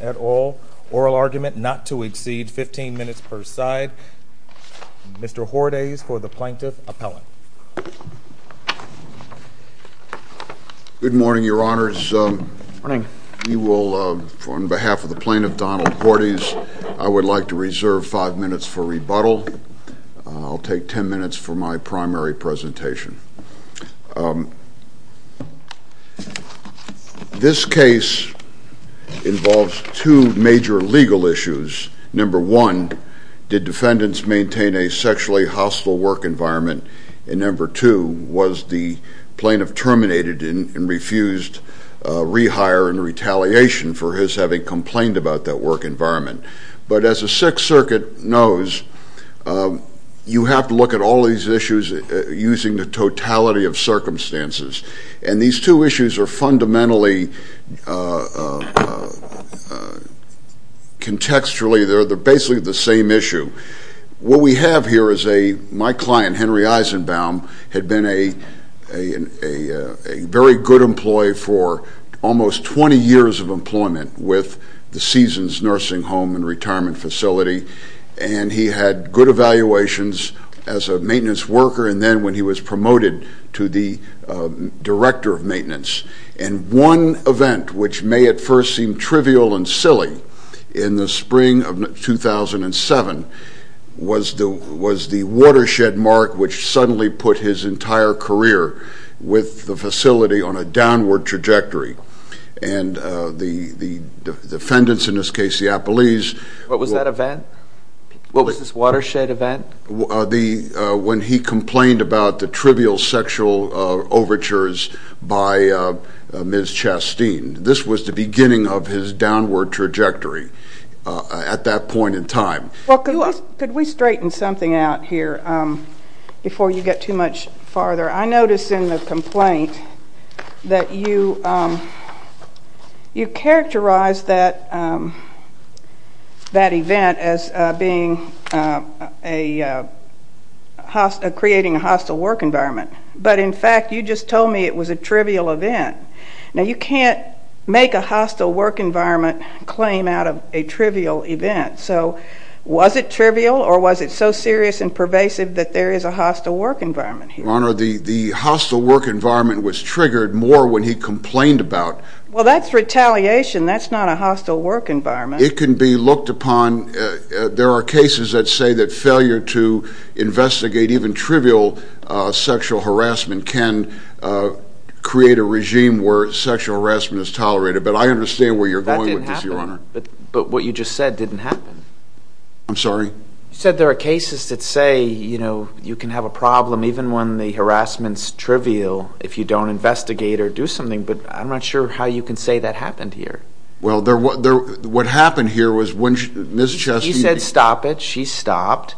at all. Oral argument not to exceed 15 minutes per side. Mr. Hordes for the Plaintiff Appellant. Good morning, Your Honors. On behalf of the Plaintiff, Donald Hordes, I would like to take five minutes for my primary presentation. This case involves two major legal issues. Number one, did defendants maintain a sexually hostile work environment? And number two, was the plaintiff terminated and refused rehire and retaliation for his having complained about that work environment? But as the Sixth Circuit knows, you have to look at all these issues using the totality of circumstances. And these two issues are fundamentally, contextually, they're basically the same issue. What we have here is a, my client, Henry Eisenbaum, had been a very good employee for almost 20 years of employment with the Seasons Nursing Home and Retirement Facility. And he had good evaluations as a maintenance worker and then when he was promoted to the Director of Maintenance. And one event which may at first seem trivial and silly, in the spring of 2007 was the watershed mark which suddenly put his entire career with the facility on a downward trajectory. And the defendants, in this case the Appellees... What was that event? What was this watershed event? When he complained about the trivial sexual overtures by Ms. Chasteen. This was the beginning of his downward trajectory at that point in time. Could we straighten something out here before you get too much farther? I notice in the complaint that you characterize that event as being a, creating a hostile work environment. But in fact, you just told me it was a trivial event. Now you can't make a hostile work environment claim out of a trivial event. So, was it trivial or was it so serious and pervasive that there is a hostile work environment here? Your Honor, the hostile work environment was triggered more when he complained about... Well that's retaliation, that's not a hostile work environment. It can be looked upon, there are cases that say that failure to investigate even trivial sexual harassment can create a regime where sexual harassment is tolerated. But I understand where you're going with this, Your Honor. That didn't happen. But what you just said didn't happen. I'm sorry? You said there are cases that say, you know, you can have a problem even when the harassment's trivial if you don't investigate or do something. But I'm not sure how you can say that happened here. Well, what happened here was when Ms. Chasteen... He said stop it, she stopped.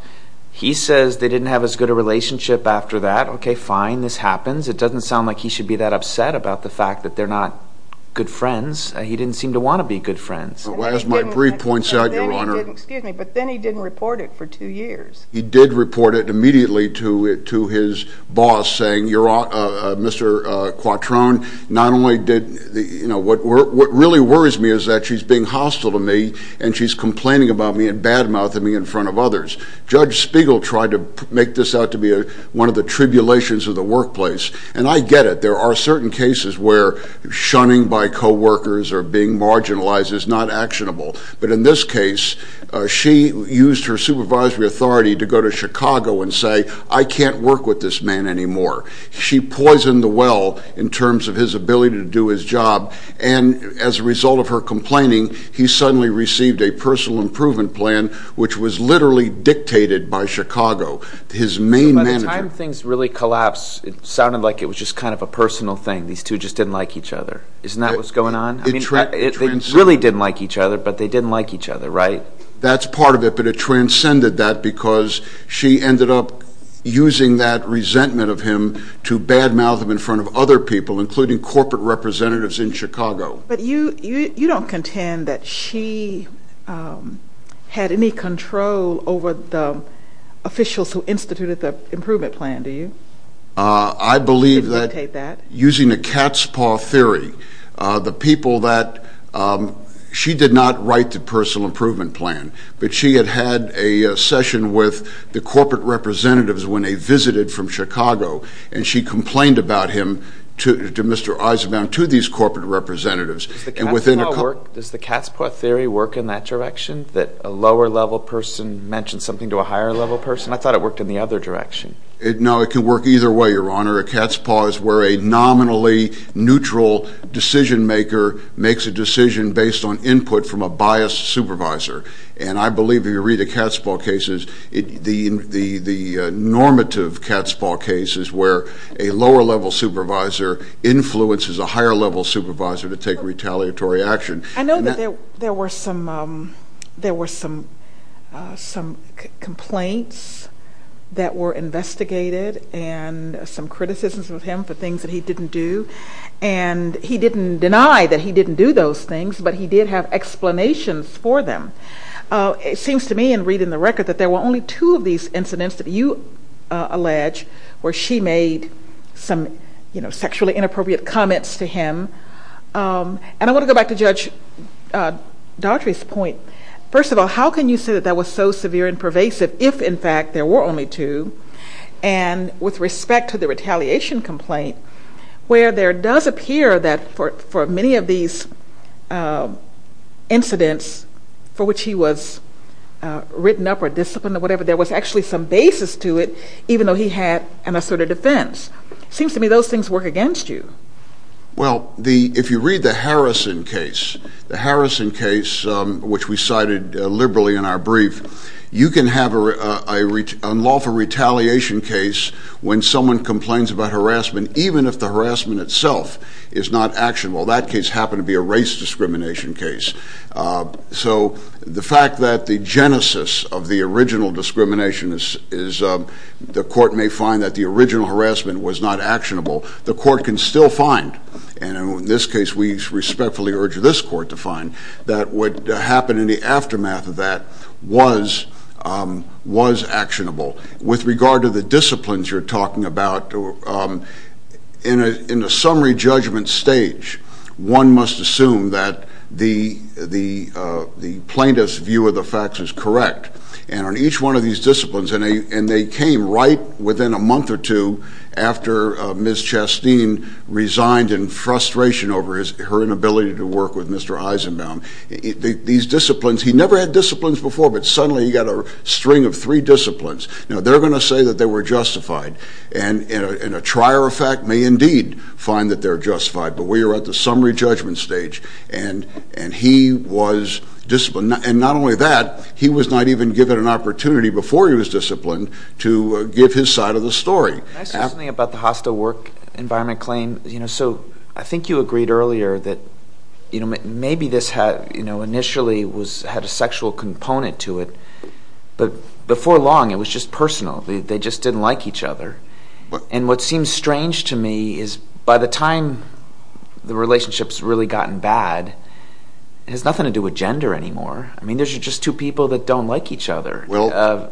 He says they didn't have as good a relationship after that. Okay, fine, this happens. It doesn't sound like he should be that upset about the fact that they're not good friends. He didn't seem to want to be good friends. As my brief points out, Your Honor... Excuse me, but then he didn't report it for two years. He did report it immediately to his boss saying, Mr. Quattrone, not only did... What really worries me is that she's being hostile to me and she's complaining about me in front of others. Judge Spiegel tried to make this out to be one of the tribulations of the workplace. And I get it. There are certain cases where shunning by coworkers or being marginalized is not actionable. But in this case, she used her supervisory authority to go to Chicago and say, I can't work with this man anymore. She poisoned the well in terms of his ability to do his job. And as a result of her complaining, he suddenly received a personal improvement plan, which was literally dictated by Chicago, his main manager. By the time things really collapsed, it sounded like it was just kind of a personal thing. These two just didn't like each other. Isn't that what's going on? They really didn't like each other, but they didn't like each other, right? That's part of it, but it transcended that because she ended up using that resentment of him to badmouth him in front of other people, including corporate representatives in Chicago. But you don't contend that she had any control over the officials who instituted the improvement plan, do you? I believe that using the cat's paw theory, the people that she did not write the personal improvement plan, but she had had a session with the corporate representatives when they visited from Chicago, and she complained about him to Mr. Eisenbaum, to these corporate representatives. Does the cat's paw theory work in that direction, that a lower-level person mentions something to a higher-level person? I thought it worked in the other direction. No, it can work either way, Your Honor. A cat's paw is where a nominally neutral decision-maker makes a decision based on input from a biased supervisor. And I believe if you read the cat's paw cases, the normative cat's paw cases where a lower-level supervisor influences a higher-level supervisor to take retaliatory action. I know that there were some complaints that were investigated and some criticisms of him for things that he didn't do. And he didn't deny that he didn't do those things, but he did have explanations for them. It seems to me in reading the record that there were only two of these incidents that you allege where she made some sexually inappropriate comments to him. And I want to go back to Judge Daughtry's point. First of all, how can you say that that was so severe and pervasive if, in fact, there were only two? And with respect to the retaliation complaint, where there does appear that for many of these incidents for which he was written up or disciplined or whatever, there was actually some basis to it even though he had an assertive defense. It seems to me those things work against you. Well, if you read the Harrison case, the Harrison case which we cited liberally in our brief, you can have a lawful retaliation case when someone complains about harassment even if the harassment itself is not actionable. That case happened to be a race discrimination case. So the fact that the genesis of the original discrimination is the court may find that the original harassment was not actionable. The court can still find, and in this case we respectfully urge this court to find, that what happened in the aftermath of that was actionable. With regard to the disciplines you're talking about, in a summary judgment stage, one must assume that the plaintiff's view of the facts is correct. And on each one of these disciplines, and they came right within a month or two after Ms. Chasteen resigned in frustration over her inability to work with Mr. Eisenbaum, these disciplines, he never had disciplines before, but suddenly he got a string of three disciplines. Now, they're going to say that they were justified, and a trier of fact may indeed find that they're justified, but we are at the summary judgment stage and he was disciplined. And not only that, he was not even given an opportunity before he was disciplined to give his side of the story. Can I say something about the hostile work environment claim? So I think you agreed earlier that maybe this initially had a sexual component to it, but before long it was just personal. They just didn't like each other. And what seems strange to me is by the time the relationship's really gotten bad, it has nothing to do with gender anymore. I mean, there's just two people that don't like each other.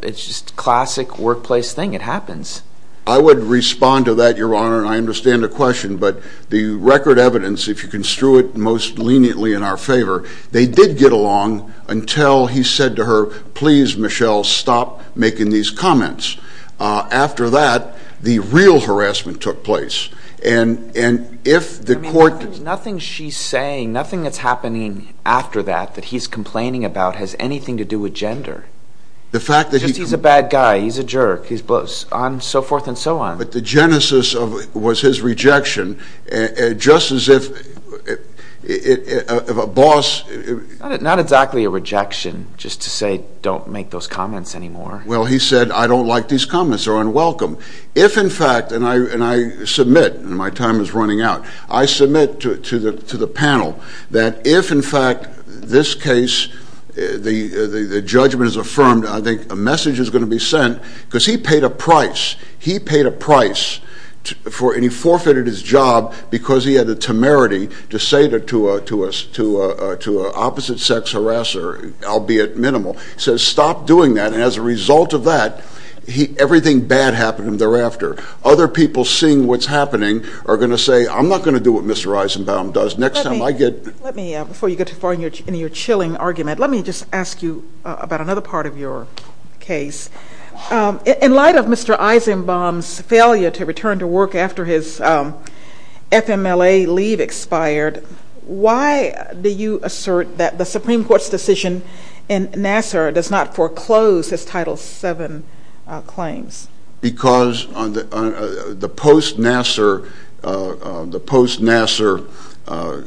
It's just a classic workplace thing. It happens. I would respond to that, Your Honor, and I understand the question, but the record evidence, if you can strew it most leniently in our favor, they did get along until he said to her, please, Michelle, stop making these comments. After that, the real harassment took place. And if the court... I mean, nothing she's saying, nothing that's happening after that that he's complaining about has anything to do with gender. The fact that he... He's a jerk. He's on and so forth and so on. But the genesis was his rejection, just as if a boss... Not exactly a rejection, just to say don't make those comments anymore. Well, he said, I don't like these comments. They're unwelcome. If, in fact, and I submit, and my time is running out, I submit to the panel that if, in fact, this case, the judgment is affirmed, I think a message is going to be sent because he paid a price. He paid a price and he forfeited his job because he had the temerity to say to an opposite-sex harasser, albeit minimal, he says stop doing that, and as a result of that, everything bad happened thereafter. Other people seeing what's happening are going to say, I'm not going to do what Mr. Eisenbaum does. Next time I get... Let me, before you get too far into your chilling argument, let me just ask you about another part of your case. In light of Mr. Eisenbaum's failure to return to work after his FMLA leave expired, why do you assert that the Supreme Court's decision in Nassar does not foreclose his Title VII claims? Because the post-Nassar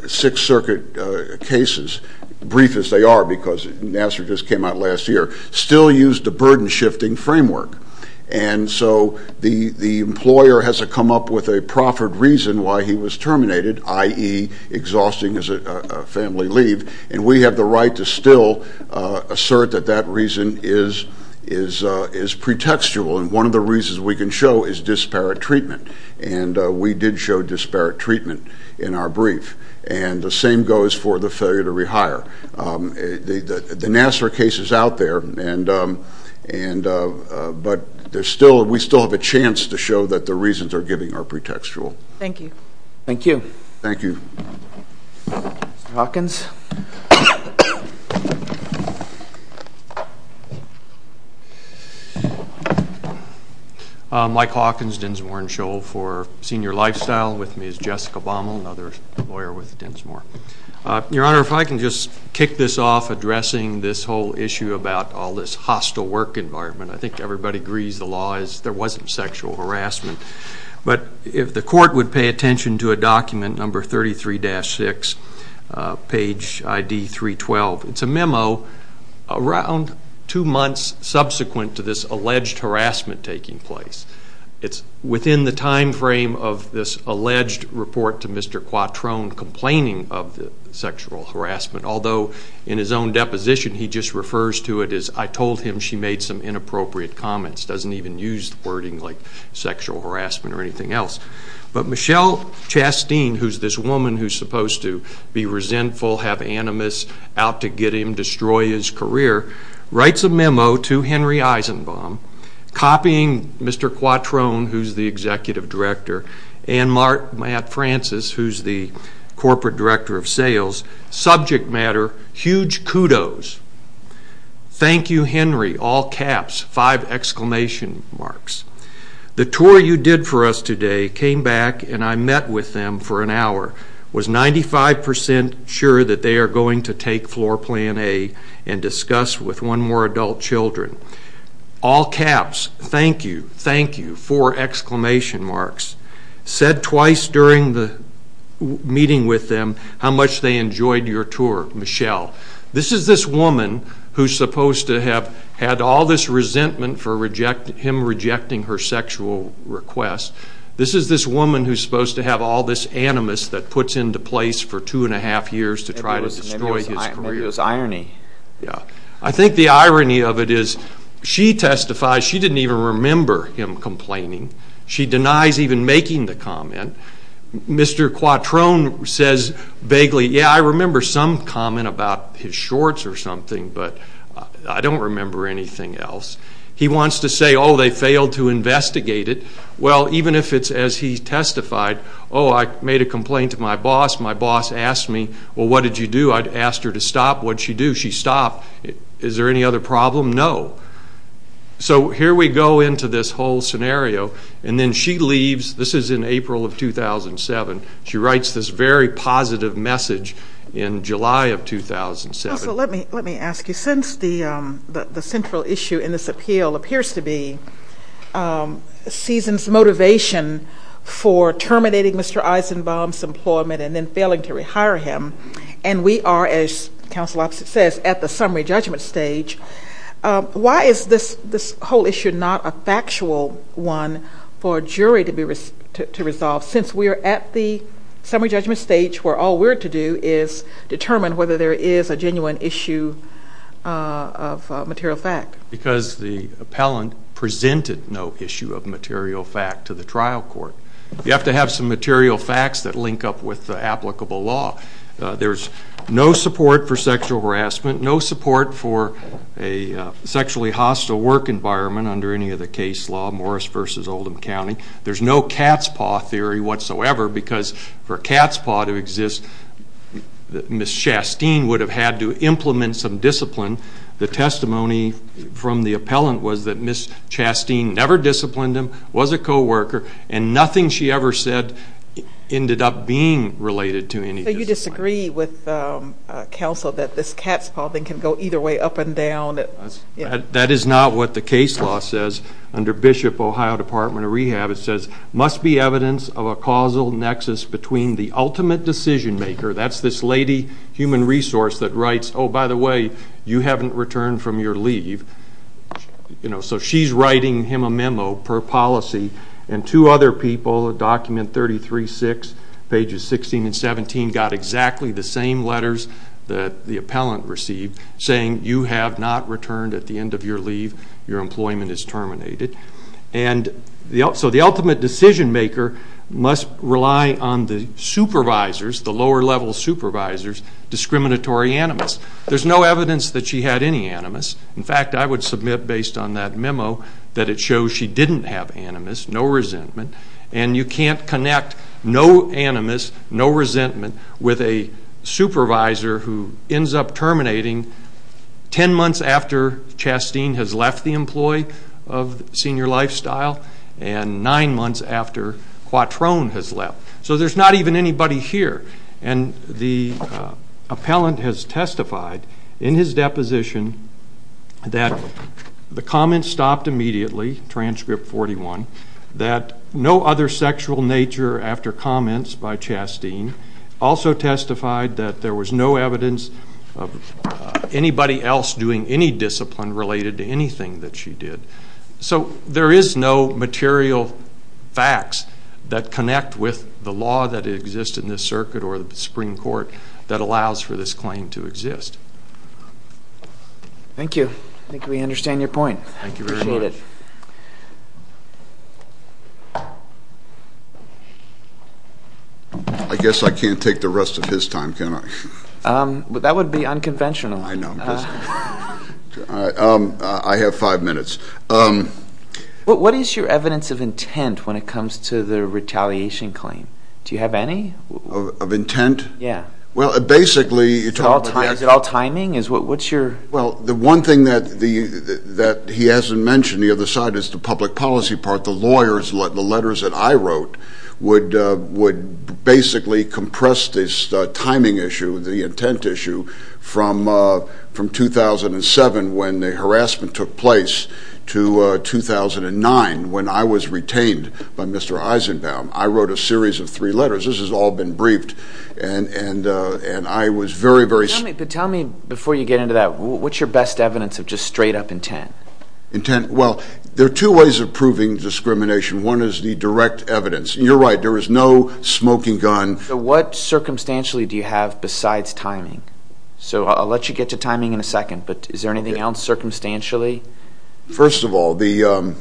Sixth Circuit cases, brief as they are because Nassar just came out last year, still used the burden-shifting framework, and so the employer has to come up with a proffered reason why he was terminated, i.e. exhausting his family leave, and we have the right to still assert that that reason is pretextual, and one of the reasons we can show is disparate treatment, and we did show disparate treatment in our brief, and the same goes for the failure to rehire. The Nassar case is out there, but we still have a chance to show that the reasons are giving are pretextual. Thank you. Thank you. Thank you. Mr. Hawkins. Mike Hawkins, Densmore & Scholl for Senior Lifestyle, with me is Jessica Baumel, another lawyer with Densmore. Your Honor, if I can just kick this off, addressing this whole issue about all this hostile work environment. I think everybody agrees the law is there wasn't sexual harassment, but if the court would pay attention to a document, number 33-6, page ID 312, it's a memo around two months subsequent to this alleged harassment taking place. It's within the time frame of this alleged report to Mr. Quattrone complaining of the sexual harassment, although in his own deposition he just refers to it as, I told him she made some inappropriate comments, doesn't even use the wording like sexual harassment or anything else. But Michelle Chastine, who's this woman who's supposed to be resentful, have animus out to get him, destroy his career, writes a memo to Henry Eisenbaum copying Mr. Quattrone, who's the executive director, and Matt Francis, who's the corporate director of sales. Subject matter, huge kudos. Thank you, Henry, all caps, five exclamation marks. The tour you did for us today came back and I met with them for an hour, was 95% sure that they are going to take floor plan A and discuss with one more adult children. All caps, thank you, thank you, four exclamation marks. Said twice during the meeting with them how much they enjoyed your tour, Michelle. This is this woman who's supposed to have had all this resentment for him rejecting her sexual request. This is this woman who's supposed to have all this animus that puts into place for two and a half years to try to destroy his career. It was irony. I think the irony of it is she testifies, she didn't even remember him complaining. She denies even making the comment. Mr. Quattrone says vaguely, yeah, I remember some comment about his shorts or something, but I don't remember anything else. He wants to say, oh, they failed to investigate it. Well, even if it's as he testified, oh, I made a complaint to my boss. My boss asked me, well, what did you do? I asked her to stop. What'd she do? She stopped. Is there any other problem? No. So here we go into this whole scenario. And then she leaves. This is in April of 2007. She writes this very positive message in July of 2007. So let me ask you. Since the central issue in this appeal appears to be Season's motivation for terminating Mr. Eisenbaum's employment and then failing to rehire him, and we are, as Counsel Opposite says, at the summary judgment stage, why is this whole issue not a factual one for a jury to resolve since we are at the summary judgment stage where all we're to do is determine whether there is a genuine issue of material fact? Because the appellant presented no issue of material fact to the trial court. You have to have some material facts that link up with the applicable law. There's no support for sexual harassment, no support for a sexually hostile work environment under any of the case law, Morris v. Oldham County. There's no cat's paw theory whatsoever because for a cat's paw to exist, Ms. Chastine would have had to implement some discipline. The testimony from the appellant was that Ms. Chastine never disciplined him, was a co-worker, and nothing she ever said ended up being related to any discipline. So you disagree with counsel that this cat's paw thing can go either way, up and down? That is not what the case law says under Bishop Ohio Department of Rehab. It says, must be evidence of a causal nexus between the ultimate decision maker, that's this lady, human resource, that writes, oh, by the way, you haven't returned from your leave. So she's writing him a memo per policy, and two other people, document 33-6, pages 16 and 17, got exactly the same letters that the appellant received, saying you have not returned at the end of your leave, your employment is terminated. And so the ultimate decision maker must rely on the supervisors, the lower level supervisors, discriminatory animus. There's no evidence that she had any animus. In fact, I would submit based on that memo that it shows she didn't have animus, no resentment, and you can't connect no animus, no resentment, with a supervisor who ends up terminating ten months after Chastine has left the employee of Senior Lifestyle and nine months after Quattrone has left. So there's not even anybody here. And the appellant has testified in his deposition that the comment stopped immediately, transcript 41, that no other sexual nature after comments by Chastine. Also testified that there was no evidence of anybody else doing any discipline related to anything that she did. So there is no material facts that connect with the law that exists in this circuit or the Supreme Court that allows for this claim to exist. Thank you. I think we understand your point. Thank you very much. Appreciate it. I guess I can't take the rest of his time, can I? That would be unconventional. I know. I have five minutes. What is your evidence of intent when it comes to the retaliation claim? Do you have any? Of intent? Yeah. Well, basically you're talking about the action. Is it all timing? Well, the one thing that he hasn't mentioned, the other side is the public policy part. The letters that I wrote would basically compress this timing issue, the intent issue, from 2007 when the harassment took place to 2009 when I was retained by Mr. Eisenbaum. I wrote a series of three letters. This has all been briefed. But tell me, before you get into that, what's your best evidence of just straight-up intent? Well, there are two ways of proving discrimination. One is the direct evidence. You're right. There is no smoking gun. What circumstantially do you have besides timing? So I'll let you get to timing in a second, but is there anything else circumstantially? First of all, the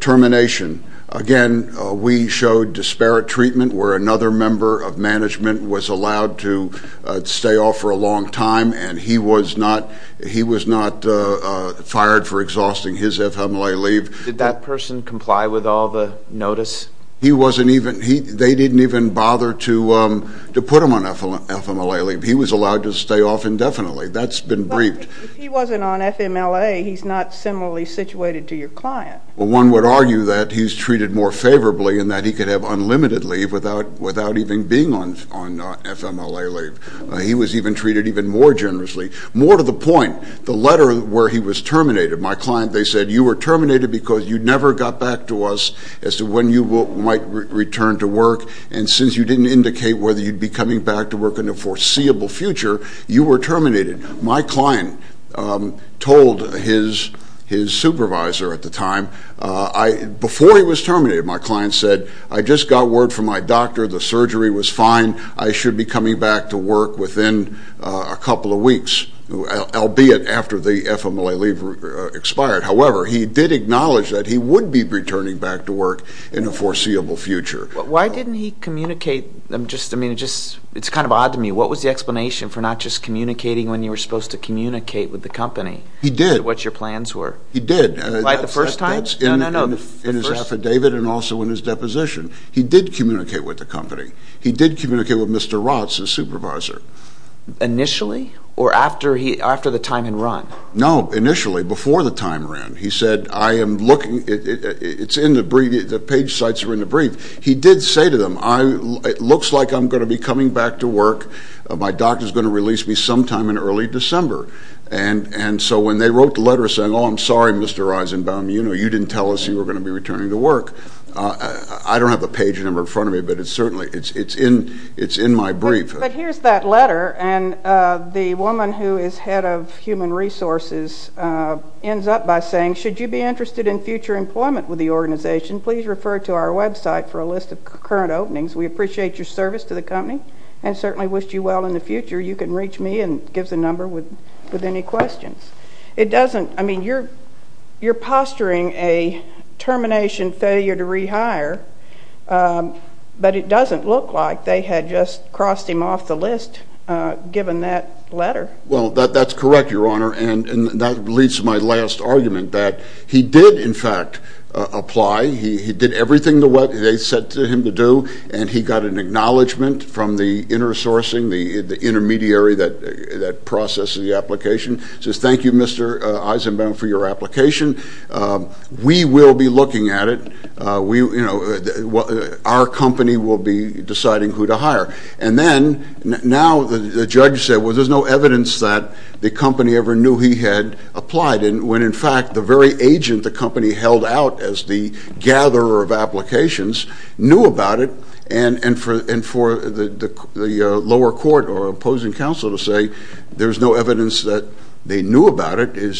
termination. Again, we showed disparate treatment where another member of management was allowed to stay off for a long time, and he was not fired for exhausting his FMLA leave. Did that person comply with all the notice? They didn't even bother to put him on FMLA leave. He was allowed to stay off indefinitely. That's been briefed. But if he wasn't on FMLA, he's not similarly situated to your client. Well, one would argue that he's treated more favorably and that he could have unlimited leave without even being on FMLA leave. He was even treated even more generously. More to the point, the letter where he was terminated, my client, they said, you were terminated because you never got back to us as to when you might return to work, and since you didn't indicate whether you'd be coming back to work in the foreseeable future, you were terminated. My client told his supervisor at the time, before he was terminated, my client said, I just got word from my doctor the surgery was fine. I should be coming back to work within a couple of weeks, albeit after the FMLA leave expired. However, he did acknowledge that he would be returning back to work in the foreseeable future. Why didn't he communicate? I mean, it's kind of odd to me. What was the explanation for not just communicating when you were supposed to communicate with the company? He did. What your plans were? He did. Right the first time? No, no, no. That's in his affidavit and also in his deposition. He did communicate with the company. He did communicate with Mr. Rotz, his supervisor. Initially or after the time had run? No, initially, before the time ran. He said, I am looking, it's in the brief, the page sites are in the brief. He did say to them, it looks like I'm going to be coming back to work. My doctor is going to release me sometime in early December. And so when they wrote the letter saying, oh, I'm sorry, Mr. Eisenbaum, you didn't tell us you were going to be returning to work. I don't have the page number in front of me, but it's certainly, it's in my brief. But here's that letter, and the woman who is head of human resources ends up by saying, should you be interested in future employment with the organization, please refer to our website for a list of current openings. We appreciate your service to the company and certainly wish you well in the future. You can reach me and give us a number with any questions. It doesn't, I mean, you're posturing a termination failure to rehire, but it doesn't look like they had just crossed him off the list given that letter. Well, that's correct, Your Honor, and that leads to my last argument, that he did, in fact, apply. He did everything they said to him to do, and he got an acknowledgment from the intersourcing, the intermediary that processed the application. He says, thank you, Mr. Eisenbaum, for your application. We will be looking at it. Our company will be deciding who to hire. And then now the judge said, well, there's no evidence that the company ever knew he had applied, when, in fact, the very agent the company held out as the gatherer of applications knew about it, and for the lower court or opposing counsel to say there's no evidence that they knew about it, it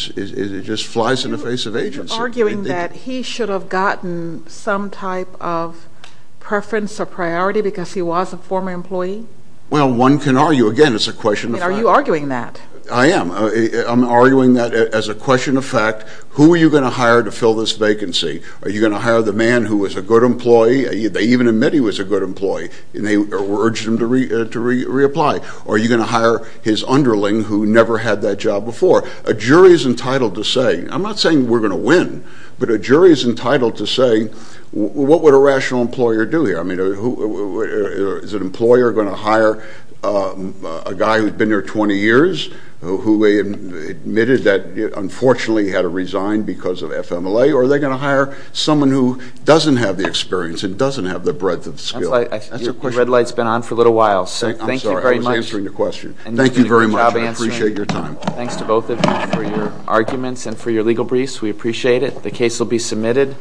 just flies in the face of agency. Are you arguing that he should have gotten some type of preference or priority because he was a former employee? Well, one can argue. Again, it's a question of fact. Are you arguing that? I am. I'm arguing that as a question of fact. Who are you going to hire to fill this vacancy? Are you going to hire the man who was a good employee? They even admit he was a good employee, and they urged him to reapply. Or are you going to hire his underling who never had that job before? A jury is entitled to say, I'm not saying we're going to win, but a jury is entitled to say, what would a rational employer do here? I mean, is an employer going to hire a guy who's been there 20 years, who they admitted that unfortunately had to resign because of FMLA, or are they going to hire someone who doesn't have the experience and doesn't have the breadth of skill? That's a question. Your red light's been on for a little while, so thank you very much. I'm sorry. I was answering the question. Thank you very much, and I appreciate your time. Thanks to both of you for your arguments and for your legal briefs. We appreciate it. The case will be submitted.